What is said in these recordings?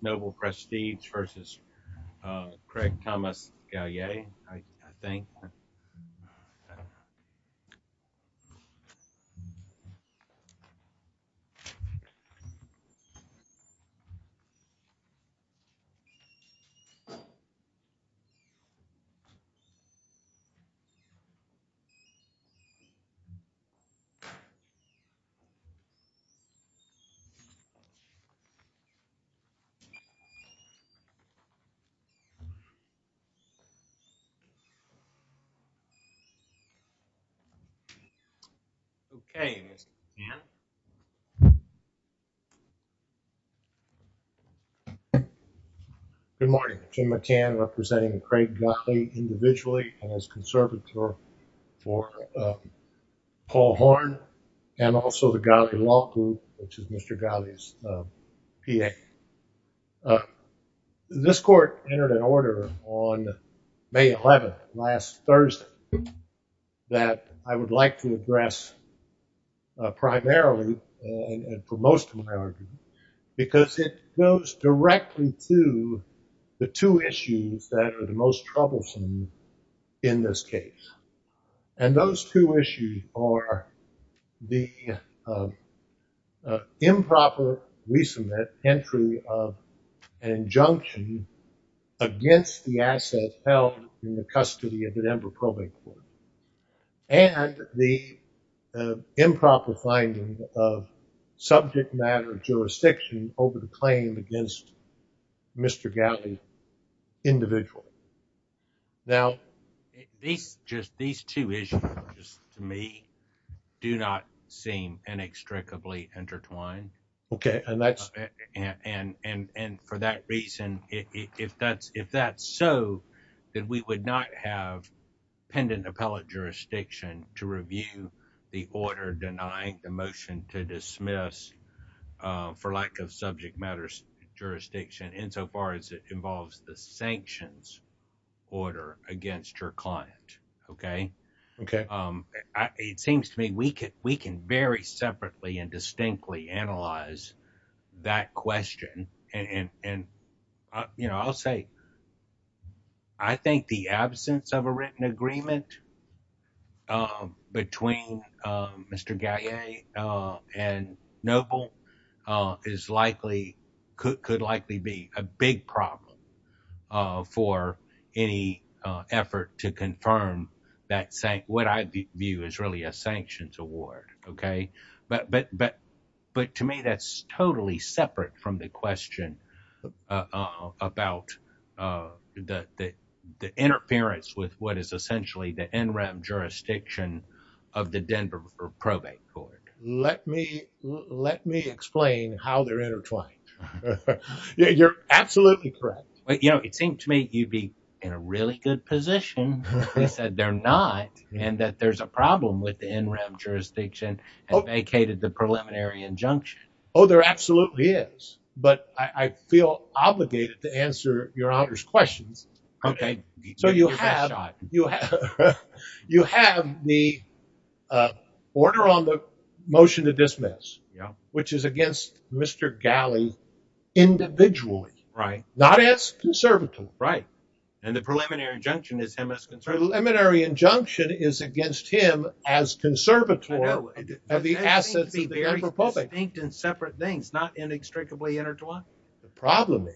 Noble Prestige versus Craig Thomas Galle, I think. Good morning, Jim McCann representing Craig Galle individually and as conservator for Paul Horn and also the Galle Law Group, which is Mr. Galle's PA. This court entered an order on May 11th, last Thursday, that I would like to address primarily and for most of my argument because it goes directly to the two issues that are the most troublesome in this case. And those two issues are the improper resubmit entry of an injunction against the asset held in the custody of the Denver Probate Court and the improper finding of subject matter jurisdiction over the claim against Mr. Galle individually. Now, these two issues, to me, do not seem inextricably intertwined and for that reason, if that's so, then we would not have pendant appellate jurisdiction to review the order denying the motion to dismiss for lack of subject matter jurisdiction insofar as it is a direct order against your client, okay? Okay. It seems to me we can very separately and distinctly analyze that question and I'll say I think the absence of a written agreement between Mr. Galle and Noble could likely be a big problem for any effort to confirm what I view as really a sanctions award, okay? But to me, that's totally separate from the question about the interference with what is essentially the NREP jurisdiction of the Denver Probate Court. Let me explain how they're intertwined. You're absolutely correct. It seemed to me you'd be in a really good position if they said they're not and that there's a problem with the NREP jurisdiction and vacated the preliminary injunction. Oh, there absolutely is, but I feel obligated to answer your honor's questions. Okay, so you have the order on the motion to dismiss, which is against Mr. Galle individually, right? Not as conservatory, right? And the preliminary injunction is him as conservatory. The preliminary injunction is against him as conservatory of the assets of the Denver Probate. I think they're distinct and separate things, not inextricably intertwined. The problem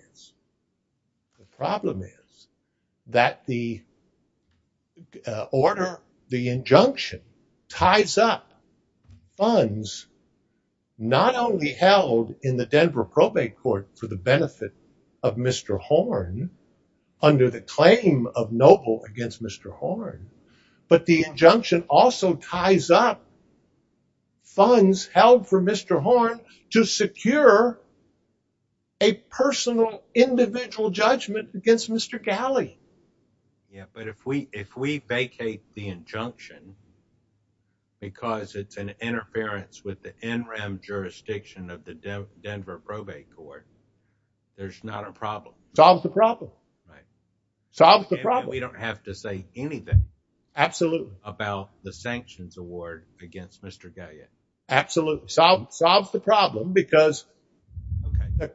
is that the order, the injunction ties up funds not only held in the Denver Probate Court for the benefit of Mr. Horne under the claim of noble against Mr. Horne, but the injunction also ties up funds held for Mr. Horne to secure a personal individual judgment against Mr. Galle. Yeah, but if we vacate the injunction because it's an interference with the NREP jurisdiction of the Denver Probate Court, there's not a problem. Solves the problem. Right. Solves the problem. We don't have to say anything. Absolute. About the sanctions award against Mr. Galle. Absolute. Solves the problem because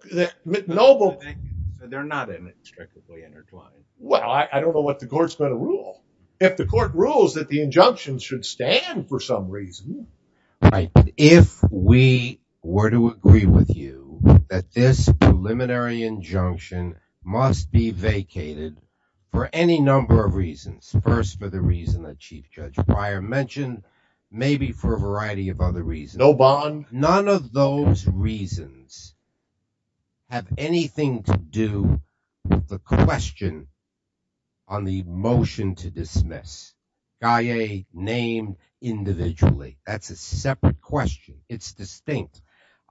they're not inextricably intertwined. Well, I don't know what the court's going to rule. If the court rules that the injunction should stand for some reason. Right. If we were to agree with you that this preliminary injunction must be vacated for any number of reasons. First, for the reason that Chief Judge Breyer mentioned, maybe for a variety of other reasons. No bond. None of those reasons have anything to do with the question on the motion to dismiss Galle named individually. That's a separate question. It's distinct.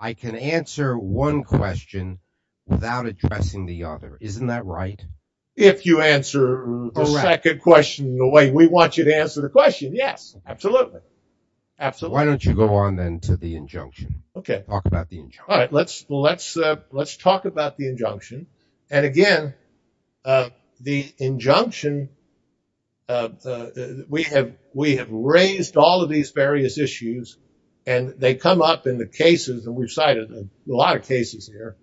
I can answer one question without addressing the other. Isn't that right? If you answer the second question the way we want you to answer the question. Yes, absolutely. Absolutely. Why don't you go on then to the injunction? Talk about the injunction. All right. Let's talk about the injunction. And again, the injunction, we have raised all of these various issues and they come up in the cases and we've cited a lot of cases here.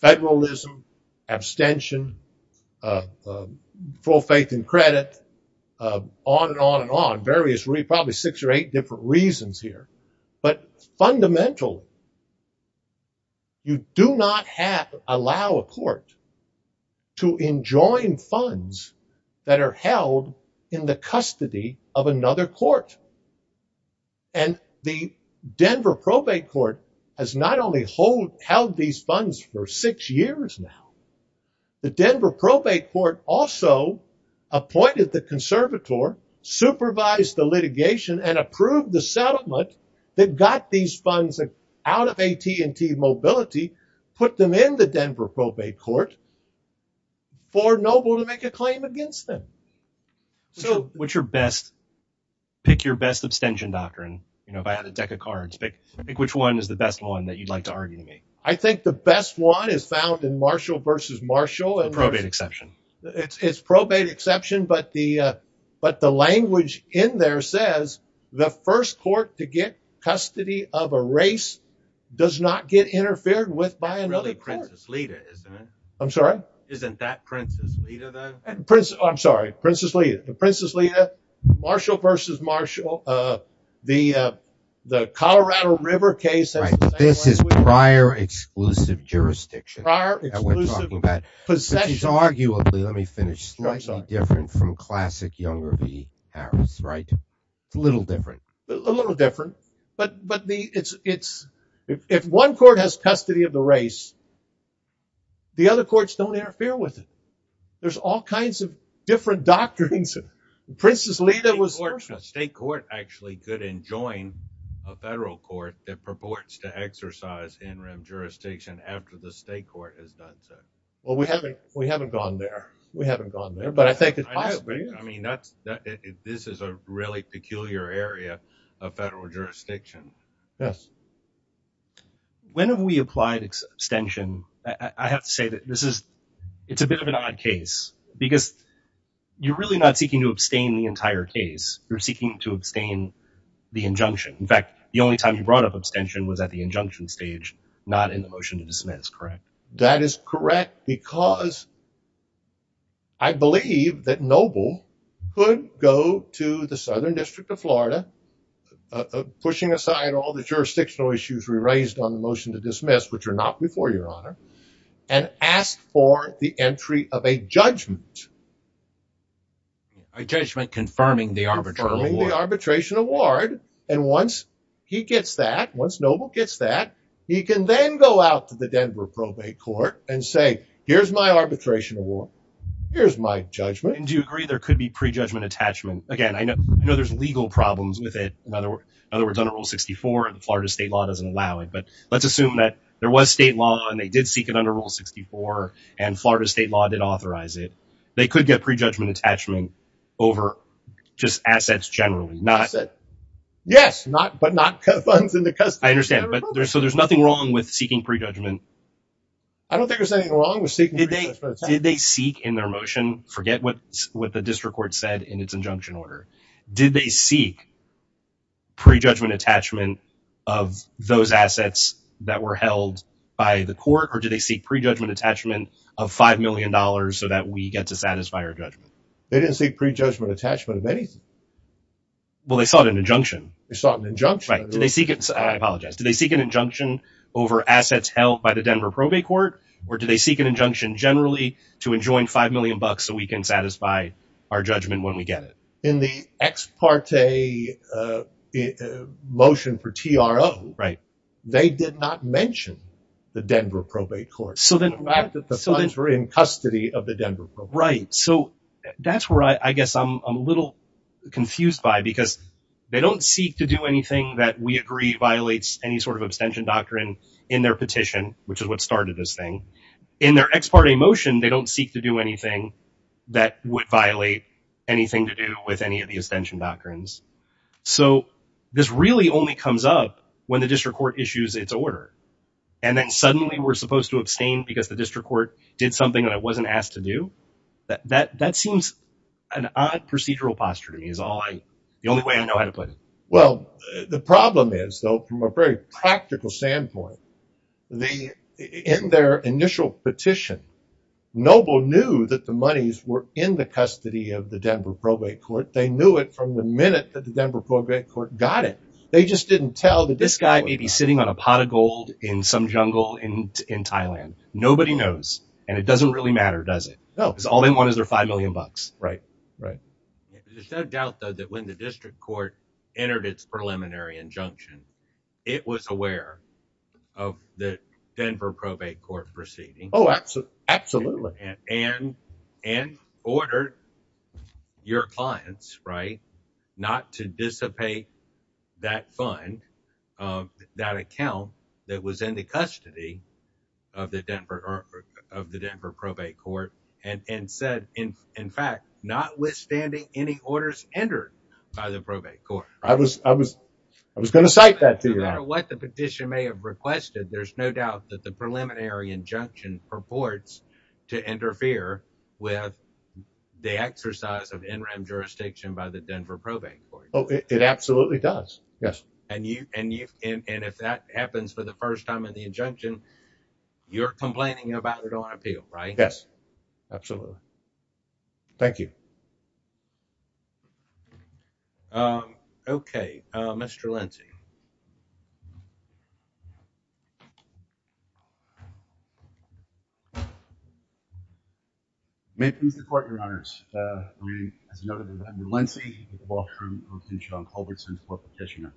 Federalism, abstention, full faith and credit, on and on and on. Various, probably six or eight different reasons here. But fundamentally, you do not allow a court to enjoin funds that are held in the custody of another court. And the Denver probate court has not only held these funds for six years now, the Denver probate court also appointed the conservator, supervised the litigation and approved the that got these funds out of AT&T Mobility, put them in the Denver probate court for Noble to make a claim against them. So what's your best, pick your best abstention doctrine. You know, if I had a deck of cards, pick which one is the best one that you'd like to argue to me. I think the best one is found in Marshall versus Marshall. The probate exception. It's probate exception. But the language in there says the first court to get custody of a race does not get interfered with by another court. It's really Princess Lita, isn't it? I'm sorry? Isn't that Princess Lita, then? I'm sorry, Princess Lita. Princess Lita, Marshall versus Marshall. The Colorado River case. This is prior exclusive jurisdiction. Prior exclusive possession. Possession. It's arguably, let me finish, slightly different from classic Younger v. Harris, right? It's a little different. A little different. But if one court has custody of the race, the other courts don't interfere with it. There's all kinds of different doctrines. Princess Lita was. State court actually could enjoin a federal court that purports to exercise interim jurisdiction after the state court has done so. Well, we haven't. We haven't gone there. We haven't gone there. But I think that I agree. I mean, this is a really peculiar area of federal jurisdiction. Yes. When have we applied extension? I have to say that this is it's a bit of an odd case because you're really not seeking to abstain the entire case. You're seeking to abstain the injunction. In fact, the only time you brought up abstention was at the injunction stage, not in the motion to dismiss, correct? That is correct because I believe that Noble could go to the Southern District of Florida, pushing aside all the jurisdictional issues we raised on the motion to dismiss, which are not before your honor, and ask for the entry of a judgment. A judgment confirming the arbitration award. Arbitration award. And once he gets that, once Noble gets that, he can then go out to the Denver probate court and say, here's my arbitration award. Here's my judgment. Do you agree there could be prejudgment attachment? Again, I know there's legal problems with it. In other words, under Rule 64, Florida state law doesn't allow it. But let's assume that there was state law and they did seek it under Rule 64 and Florida state law did authorize it. They could get prejudgment attachment over just assets generally. Yes, but not funds in the custody. I understand, but there's nothing wrong with seeking prejudgment. I don't think there's anything wrong with seeking prejudgment attachment. Did they seek in their motion? Forget what the district court said in its injunction order. Did they seek prejudgment attachment of those assets that were held by the court? Or did they seek prejudgment attachment of $5 million so that we get to satisfy our judgment? They didn't seek prejudgment attachment of anything. Well, they sought an injunction. They sought an injunction. I apologize. Did they seek an injunction over assets held by the Denver probate court? Or did they seek an injunction generally to enjoin $5 million so we can satisfy our judgment when we get it? In the ex parte motion for TRO, they did not mention the Denver probate court. So the fact that the funds were in custody of the Denver probate court. Right. So that's where I guess I'm a little confused by because they don't seek to do anything that we agree violates any sort of abstention doctrine in their petition, which is what started this thing. In their ex parte motion, they don't seek to do anything that would violate anything to do with any of the abstention doctrines. So this really only comes up when the district court issues its order. And then suddenly we're supposed to abstain because the district court did something that I wasn't asked to do. That seems an odd procedural posture to me is the only way I know how to put it. Well, the problem is, though, from a very practical standpoint, in their initial petition, Noble knew that the monies were in the custody of the Denver probate court. They knew it from the minute that the Denver probate court got it. They just didn't tell that this guy may be sitting on a pot of gold in some jungle in Thailand. Nobody knows. And it doesn't really matter, does it? No. Because all they want is their five million bucks. Right. Right. There's no doubt, though, that when the district court entered its preliminary injunction, it was aware of the Denver probate court proceeding. Absolutely. And ordered your clients, right? Not to dissipate that fund, that account that was in the custody of the Denver probate court and said, in fact, notwithstanding any orders entered by the probate court. I was going to cite that to you. No matter what the petition may have requested, there's no doubt that the preliminary injunction purports to interfere with the exercise of NREM jurisdiction by the Denver probate court. Oh, it absolutely does. Yes. And you and you. And if that happens for the first time in the injunction, you're complaining about it on appeal, right? Yes, absolutely. Thank you. Um, okay, uh, Mr. Lindsay. May please report your honors, uh, as noted by Mr. Lindsay, the law firm of John Culbertson for petitioner.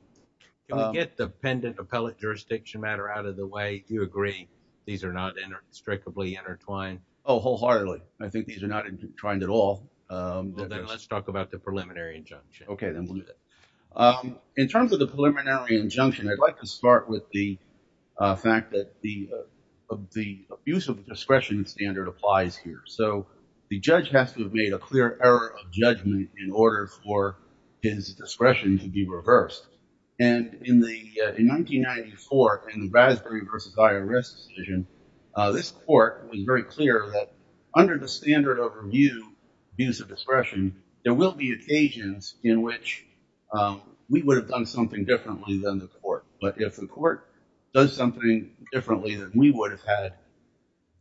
Can we get the pendant appellate jurisdiction matter out of the way? Do you agree? These are not in a strictly intertwined. Oh, wholeheartedly. I think these are not trying at all. Then let's talk about the preliminary injunction. Okay. Then we'll do that. Um, in terms of the preliminary injunction, I'd like to start with the, uh, fact that the, uh, the use of discretion standard applies here. So the judge has to have made a clear error of judgment in order for his discretion to be reversed. And in the, uh, in 1994 and the Brasbury versus IRS decision, uh, this court was very clear that under the standard of review, use of discretion, there will be occasions in which, um, we would have done something differently than the court, but if the court does something differently than we would have had,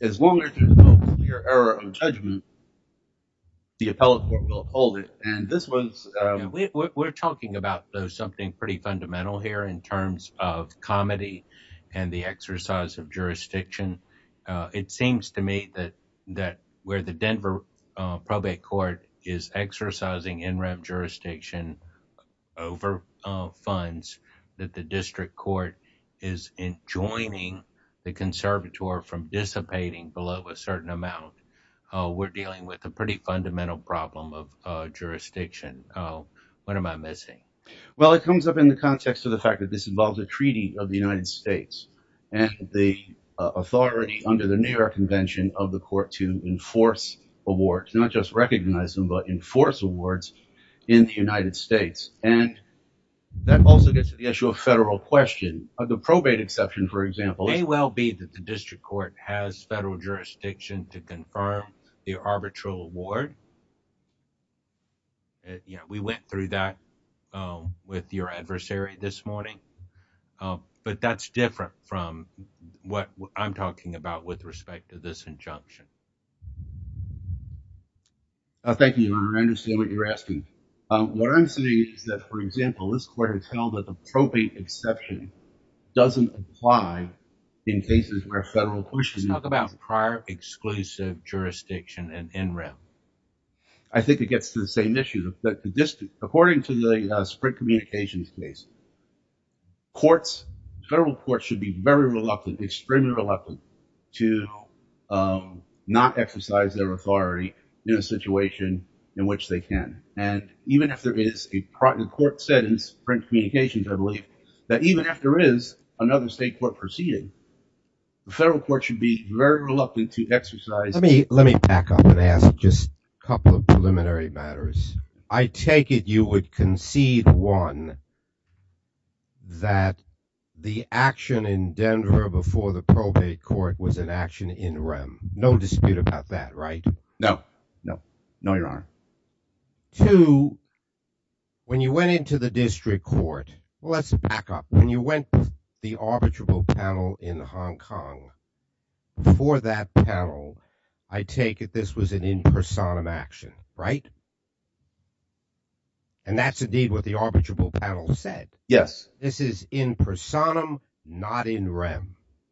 as long as there's no clear error of judgment, the appellate court will hold it. And this was, um, we're talking about something pretty fundamental here in terms of comedy and the exercise of jurisdiction. Uh, it seems to me that, that where the Denver, uh, probate court is exercising NREM jurisdiction over, uh, funds that the district court is in joining the conservator from dissipating below a certain amount, uh, we're dealing with a pretty fundamental problem of, uh, jurisdiction. Uh, what am I missing? Well, it comes up in the context of the fact that this involves a treaty of the United States and the authority under the New York convention of the court to enforce awards, not just recognize them, but enforce awards in the United States. And that also gets to the issue of federal question of the probate exception. For example, it may well be that the district court has federal jurisdiction to confirm the arbitral award. Yeah, we went through that, um, with your adversary this morning. Um, but that's different from what I'm talking about with respect to this injunction. I thank you. I understand what you're asking. Um, what I'm saying is that, for example, this court has held that the probate exception doesn't apply in cases where federal questions about prior exclusive jurisdiction and NREM. I think it gets to the same issue that the district, according to the, uh, print communications case, courts, federal courts should be very reluctant, extremely reluctant to, um, not exercise their authority in a situation in which they can. And even if there is a court sentence, print communications, I believe that even if there is another state court proceeding, the federal court should be very reluctant to exercise. Let me, let me back up and ask just a couple of preliminary matters. I take it you would concede, one, that the action in Denver before the probate court was an action in NREM. No dispute about that, right? No, no, no, Your Honor. Two, when you went into the district court, let's back up. When you went to the arbitrable panel in Hong Kong, before that panel, I take it this was an in personam action, right? Yes, Your Honor. And that's indeed what the arbitrable panel said. Yes. This is in personam, not in NREM.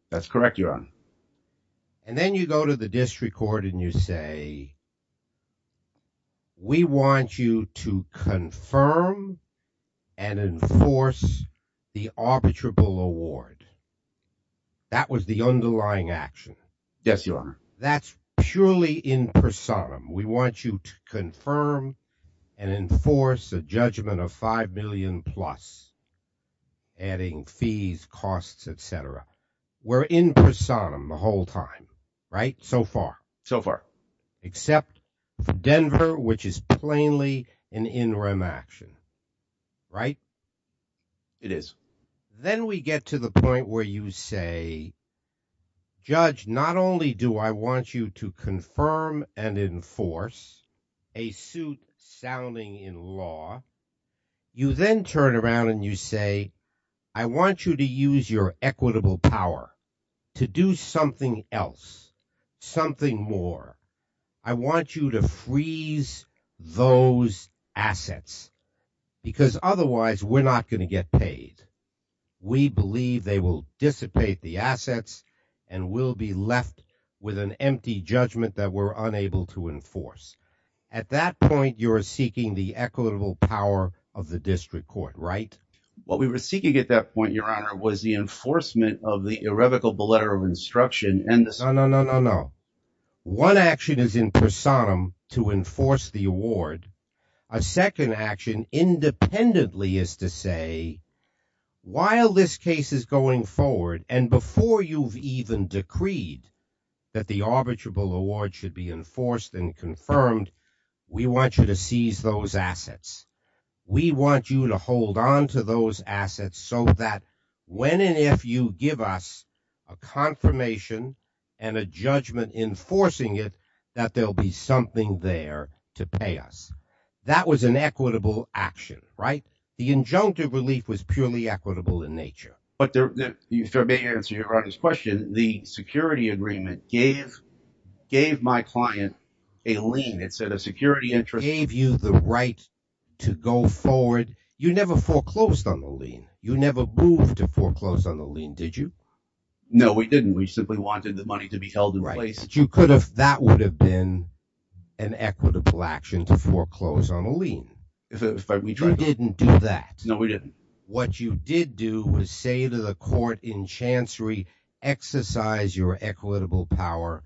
That's correct, Your Honor. And then you go to the district court and you say, we want you to confirm and enforce the arbitrable award. That was the underlying action. Yes, Your Honor. That's purely in personam. We want you to confirm and enforce a judgment of $5 million plus, adding fees, costs, etc. We're in personam the whole time, right? So far. So far. Except for Denver, which is plainly an NREM action, right? It is. Then we get to the point where you say, Judge, not only do I want you to confirm and enforce a suit sounding in law, you then turn around and you say, I want you to use your equitable power to do something else, something more. I want you to freeze those assets because otherwise we're not going to get paid. We believe they will dissipate the assets and we'll be left with an empty judgment that we're unable to enforce. At that point, you're seeking the equitable power of the district court, right? What we were seeking at that point, Your Honor, was the enforcement of the irrevocable letter of instruction. No, no, no, no, no. One action is in personam to enforce the award. A second action independently is to say, while this case is going forward and before you've even decreed that the arbitrable award should be enforced and confirmed, we want you to seize those assets. We want you to hold on to those assets so that when and if you give us a confirmation and a judgment enforcing it, that there'll be something there to pay us. That was an equitable action, right? The injunctive relief was purely equitable in nature. But there, if I may answer Your Honor's question, the security agreement gave my client a lien. It said a security interest gave you the right to go forward. You never foreclosed on the lien. You never moved to foreclose on the lien, did you? No, we didn't. We simply wanted the money to be held in place. That would have been an equitable action to foreclose on a lien. We didn't do that. No, we didn't. What you did do was say to the court in Chancery, exercise your equitable power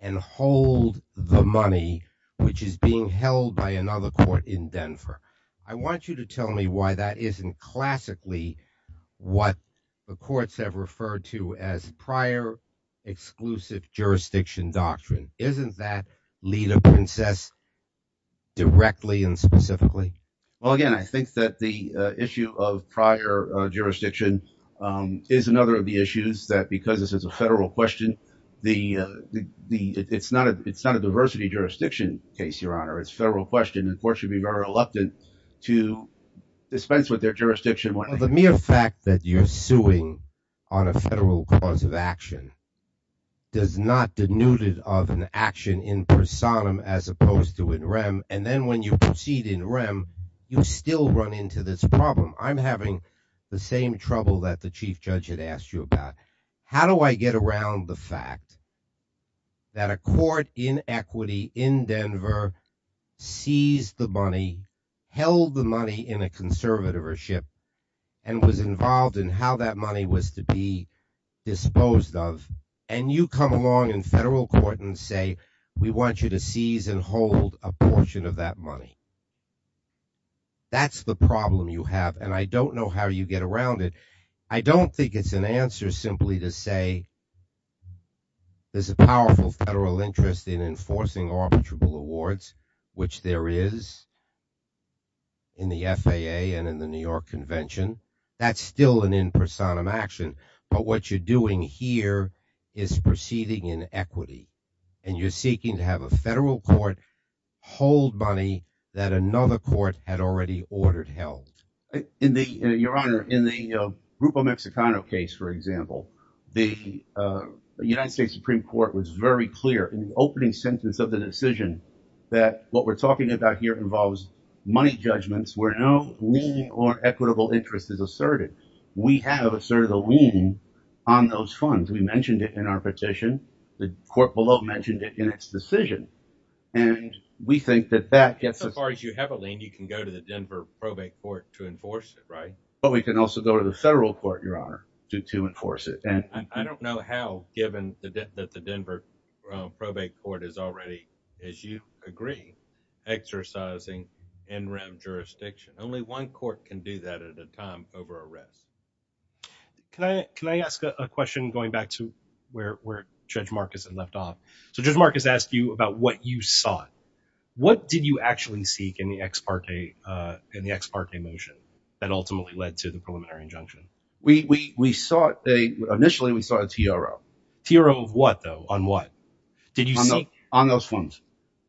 and hold the money, which is being held by another court in Denver. I want you to tell me why that isn't classically what the courts have referred to as prior exclusive jurisdiction doctrine. Isn't that lead a princess directly and specifically? Well, again, I think that the issue of prior jurisdiction is another of the issues that, because this is a federal question, it's not a diversity jurisdiction case, Your Honor. It's a federal question. And courts should be very reluctant to dispense with their jurisdiction. The mere fact that you're suing on a federal cause of action does not denude it of an action in personam as opposed to in rem. And then when you proceed in rem, you still run into this problem. I'm having the same trouble that the chief judge had asked you about. How do I get around the fact that a court in equity in Denver seized the money, held the money in a conservatorship, and was involved in how that money was to be disposed of? And you come along in federal court and say, we want you to seize and hold a portion of that money. That's the problem you have, and I don't know how you get around it. I don't think it's an answer simply to say there's a powerful federal interest in enforcing arbitrable awards, which there is in the FAA and in the New York Convention. That's still an in personam action. But what you're doing here is proceeding in equity. And you're seeking to have a federal court hold money that another court had already ordered held. Your Honor, in the Grupo Mexicano case, for example, the United States Supreme Court was very clear in the opening sentence of the decision that what we're talking about here involves money judgments where no lien or equitable interest is asserted. We have asserted a lien on those funds. We mentioned it in our petition. The court below mentioned it in its decision. And we think that that gets us- So far as you have a lien, you can go to the Denver probate court to enforce it, right? But we can also go to the federal court, Your Honor, to enforce it. And I don't know how, given that the Denver probate court is already, as you agree, exercising in-ramp jurisdiction. Only one court can do that at a time over arrest. Can I ask a question going back to where Judge Marcus had left off? So Judge Marcus asked you about what you sought. What did you actually seek in the ex parte motion that ultimately led to the preliminary injunction? We sought- Initially, we sought a TRO. TRO of what, though? On what? Did you seek- On those funds.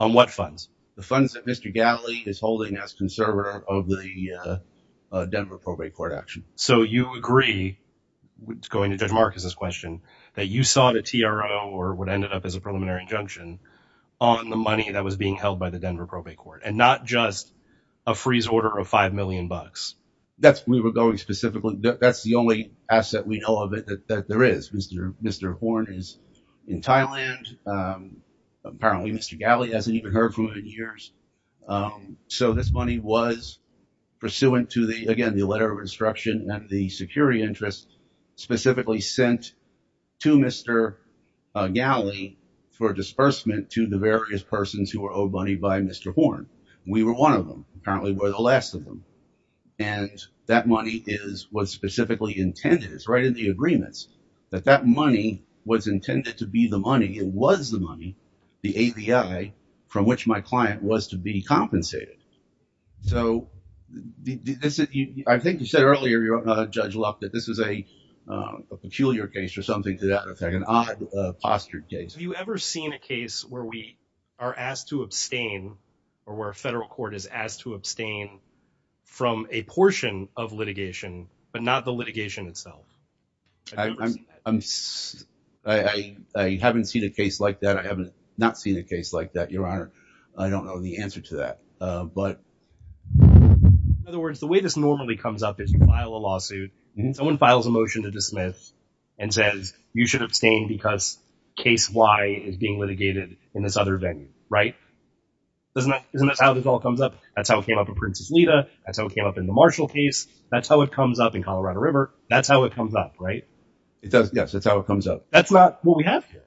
On what funds? The funds that Mr. Gatley is holding as conservator of the Denver probate court action. So you agree, going to Judge Marcus's question, that you sought a TRO or what ended up as a preliminary injunction on the money that was being held by the Denver probate court, and not just a freeze order of 5 million bucks? We were going specifically- That's the only asset we know of that there is. Mr. Horn is in Thailand. Apparently, Mr. Gatley hasn't even heard from him in years. So this money was pursuant to, again, the letter of instruction and the security interest specifically sent to Mr. Gatley for disbursement to the various persons who were owed money by Mr. Horn. We were one of them. Apparently, we're the last of them. And that money is what's specifically intended. It's right in the agreements that that money was intended to be the money. It was the money, the AVI, from which my client was to be compensated. So I think you said earlier, Judge Luck, that this is a peculiar case or something to that effect, an odd postured case. Have you ever seen a case where we are asked to abstain or where a federal court is asked to abstain from a portion of litigation, but not the litigation itself? I haven't seen a case like that. I have not seen a case like that, Your Honor. I don't know the answer to that. In other words, the way this normally comes up is you file a lawsuit. Someone files a motion to dismiss and says, you should abstain because case Y is being litigated in this other venue, right? Isn't that how this all comes up? That's how it came up in Prince's Leda. That's how it came up in the Marshall case. That's how it comes up in Colorado River. That's how it comes up, right? Yes, that's how it comes up. That's not what we have here.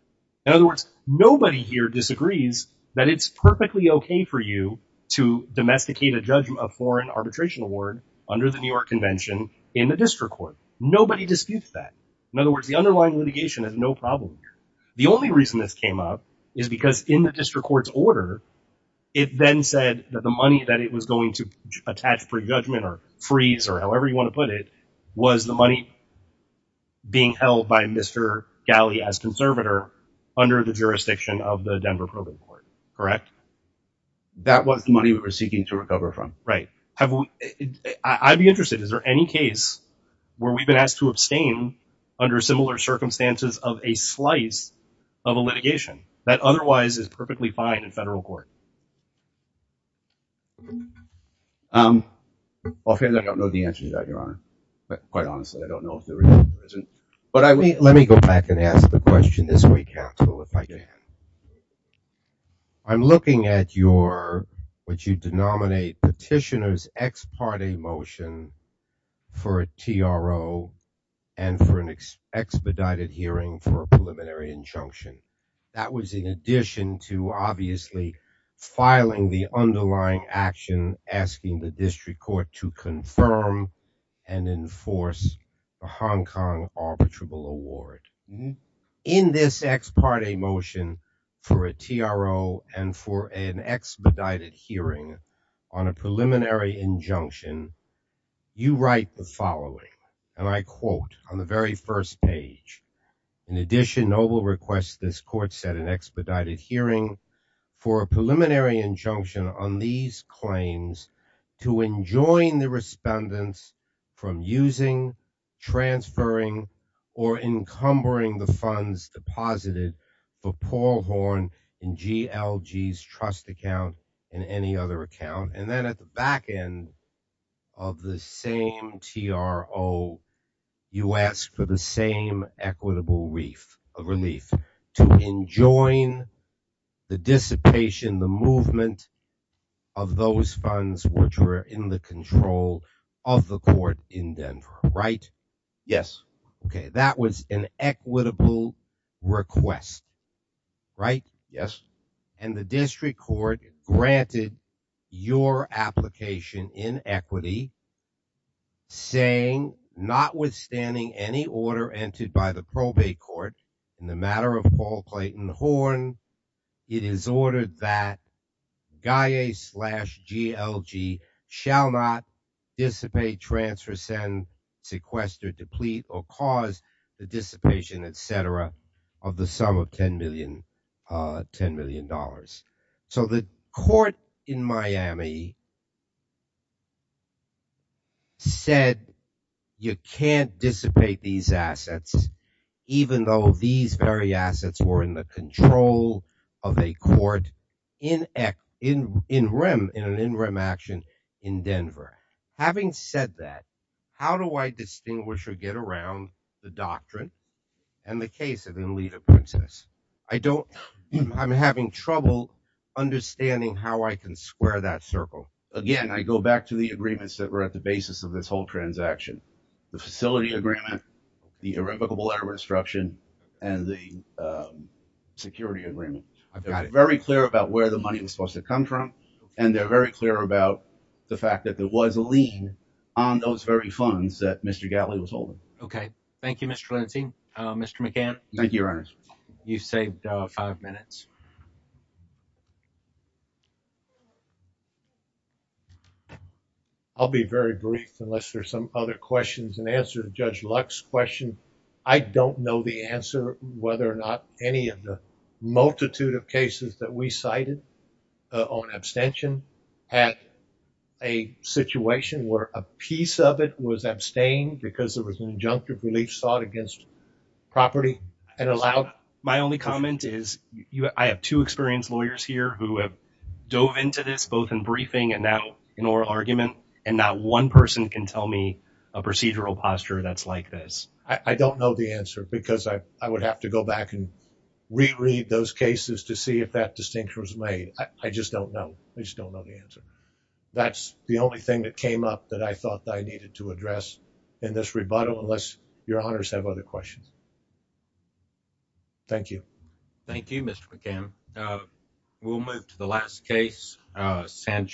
In other words, nobody here disagrees that it's perfectly okay for you to domesticate a judgment of foreign arbitration award under the New York Convention in the district court. Nobody disputes that. In other words, the underlying litigation has no problem here. The only reason this came up is because in the district court's order, it then said that the money that it was going to attach for judgment or freeze or however you want to put it, was the money being held by Mr. Galley as conservator under the jurisdiction of the Denver Proving Court, correct? That was the money we were seeking to recover from. Right. I'd be interested. Is there any case where we've been asked to abstain under similar circumstances of a slice of a litigation that otherwise is perfectly fine in federal court? I don't know the answer to that, Your Honor. But quite honestly, I don't know if there is. But let me go back and ask the question this way, counsel, if I can. I'm looking at what you denominate petitioner's ex parte motion for a TRO and for an expedited hearing for a preliminary injunction. That was in addition to obviously filing the underlying action, asking the district court to confirm and enforce the Hong Kong arbitrable award. In this ex parte motion for a TRO and for an expedited hearing on a preliminary injunction, you write the following. And I quote on the very first page. In addition, Noble requests this court set an expedited hearing for a preliminary injunction on these claims to enjoin the respondents from using, transferring or encumbering the funds deposited for Paul Horn and GLG's trust account in any other account. And then at the back end of the same TRO, you ask for the same equitable relief to enjoin the dissipation, the movement of those funds, which were in the control of the court in Denver, right? Yes. Okay. That was an equitable request, right? Yes. And the district court granted your application in equity saying notwithstanding any order entered by the probate court in the matter of Paul Clayton Horn, it is ordered that GAIA slash GLG shall not dissipate, transfer, send, sequester, deplete, or cause the dissipation, et cetera, of the sum of $10 million. So the court in Miami said you can't dissipate these assets, even though these very assets were in the control of a court in rem, in an in rem action in Denver. Having said that, how do I distinguish or get around the doctrine and the case of Enlita Princess? I'm having trouble understanding how I can square that circle. Again, I go back to the agreements that were at the basis of this whole transaction, the facility agreement, the irrevocable error instruction, and the security agreement. I've got it. Very clear about where the money was supposed to come from. And they're very clear about the fact that there was a lien on those very funds that Mr. Gatley was holding. Okay. Thank you, Mr. Lansing. Mr. McCann. Thank you, Your Honor. You saved five minutes. I'll be very brief unless there's some other questions. In answer to Judge Luck's question, I don't know the answer whether or not any of the multitude of cases that we cited on abstention had a situation where a piece of it was abstained because there was an injunctive relief sought against property and allowed... My only comment is I have two experienced lawyers here who have dove into this, both in briefing and now in oral argument, and not one person can tell me a procedural posture that's like this. I don't know the answer because I would have to go back and reread those cases to see if that distinction was made. I just don't know. I just don't know the answer. That's the only thing that came up that I thought I needed to address in this rebuttal unless Your Honors have other questions. Thank you. Thank you, Mr. McCann. We'll move to the last case, Sanchez.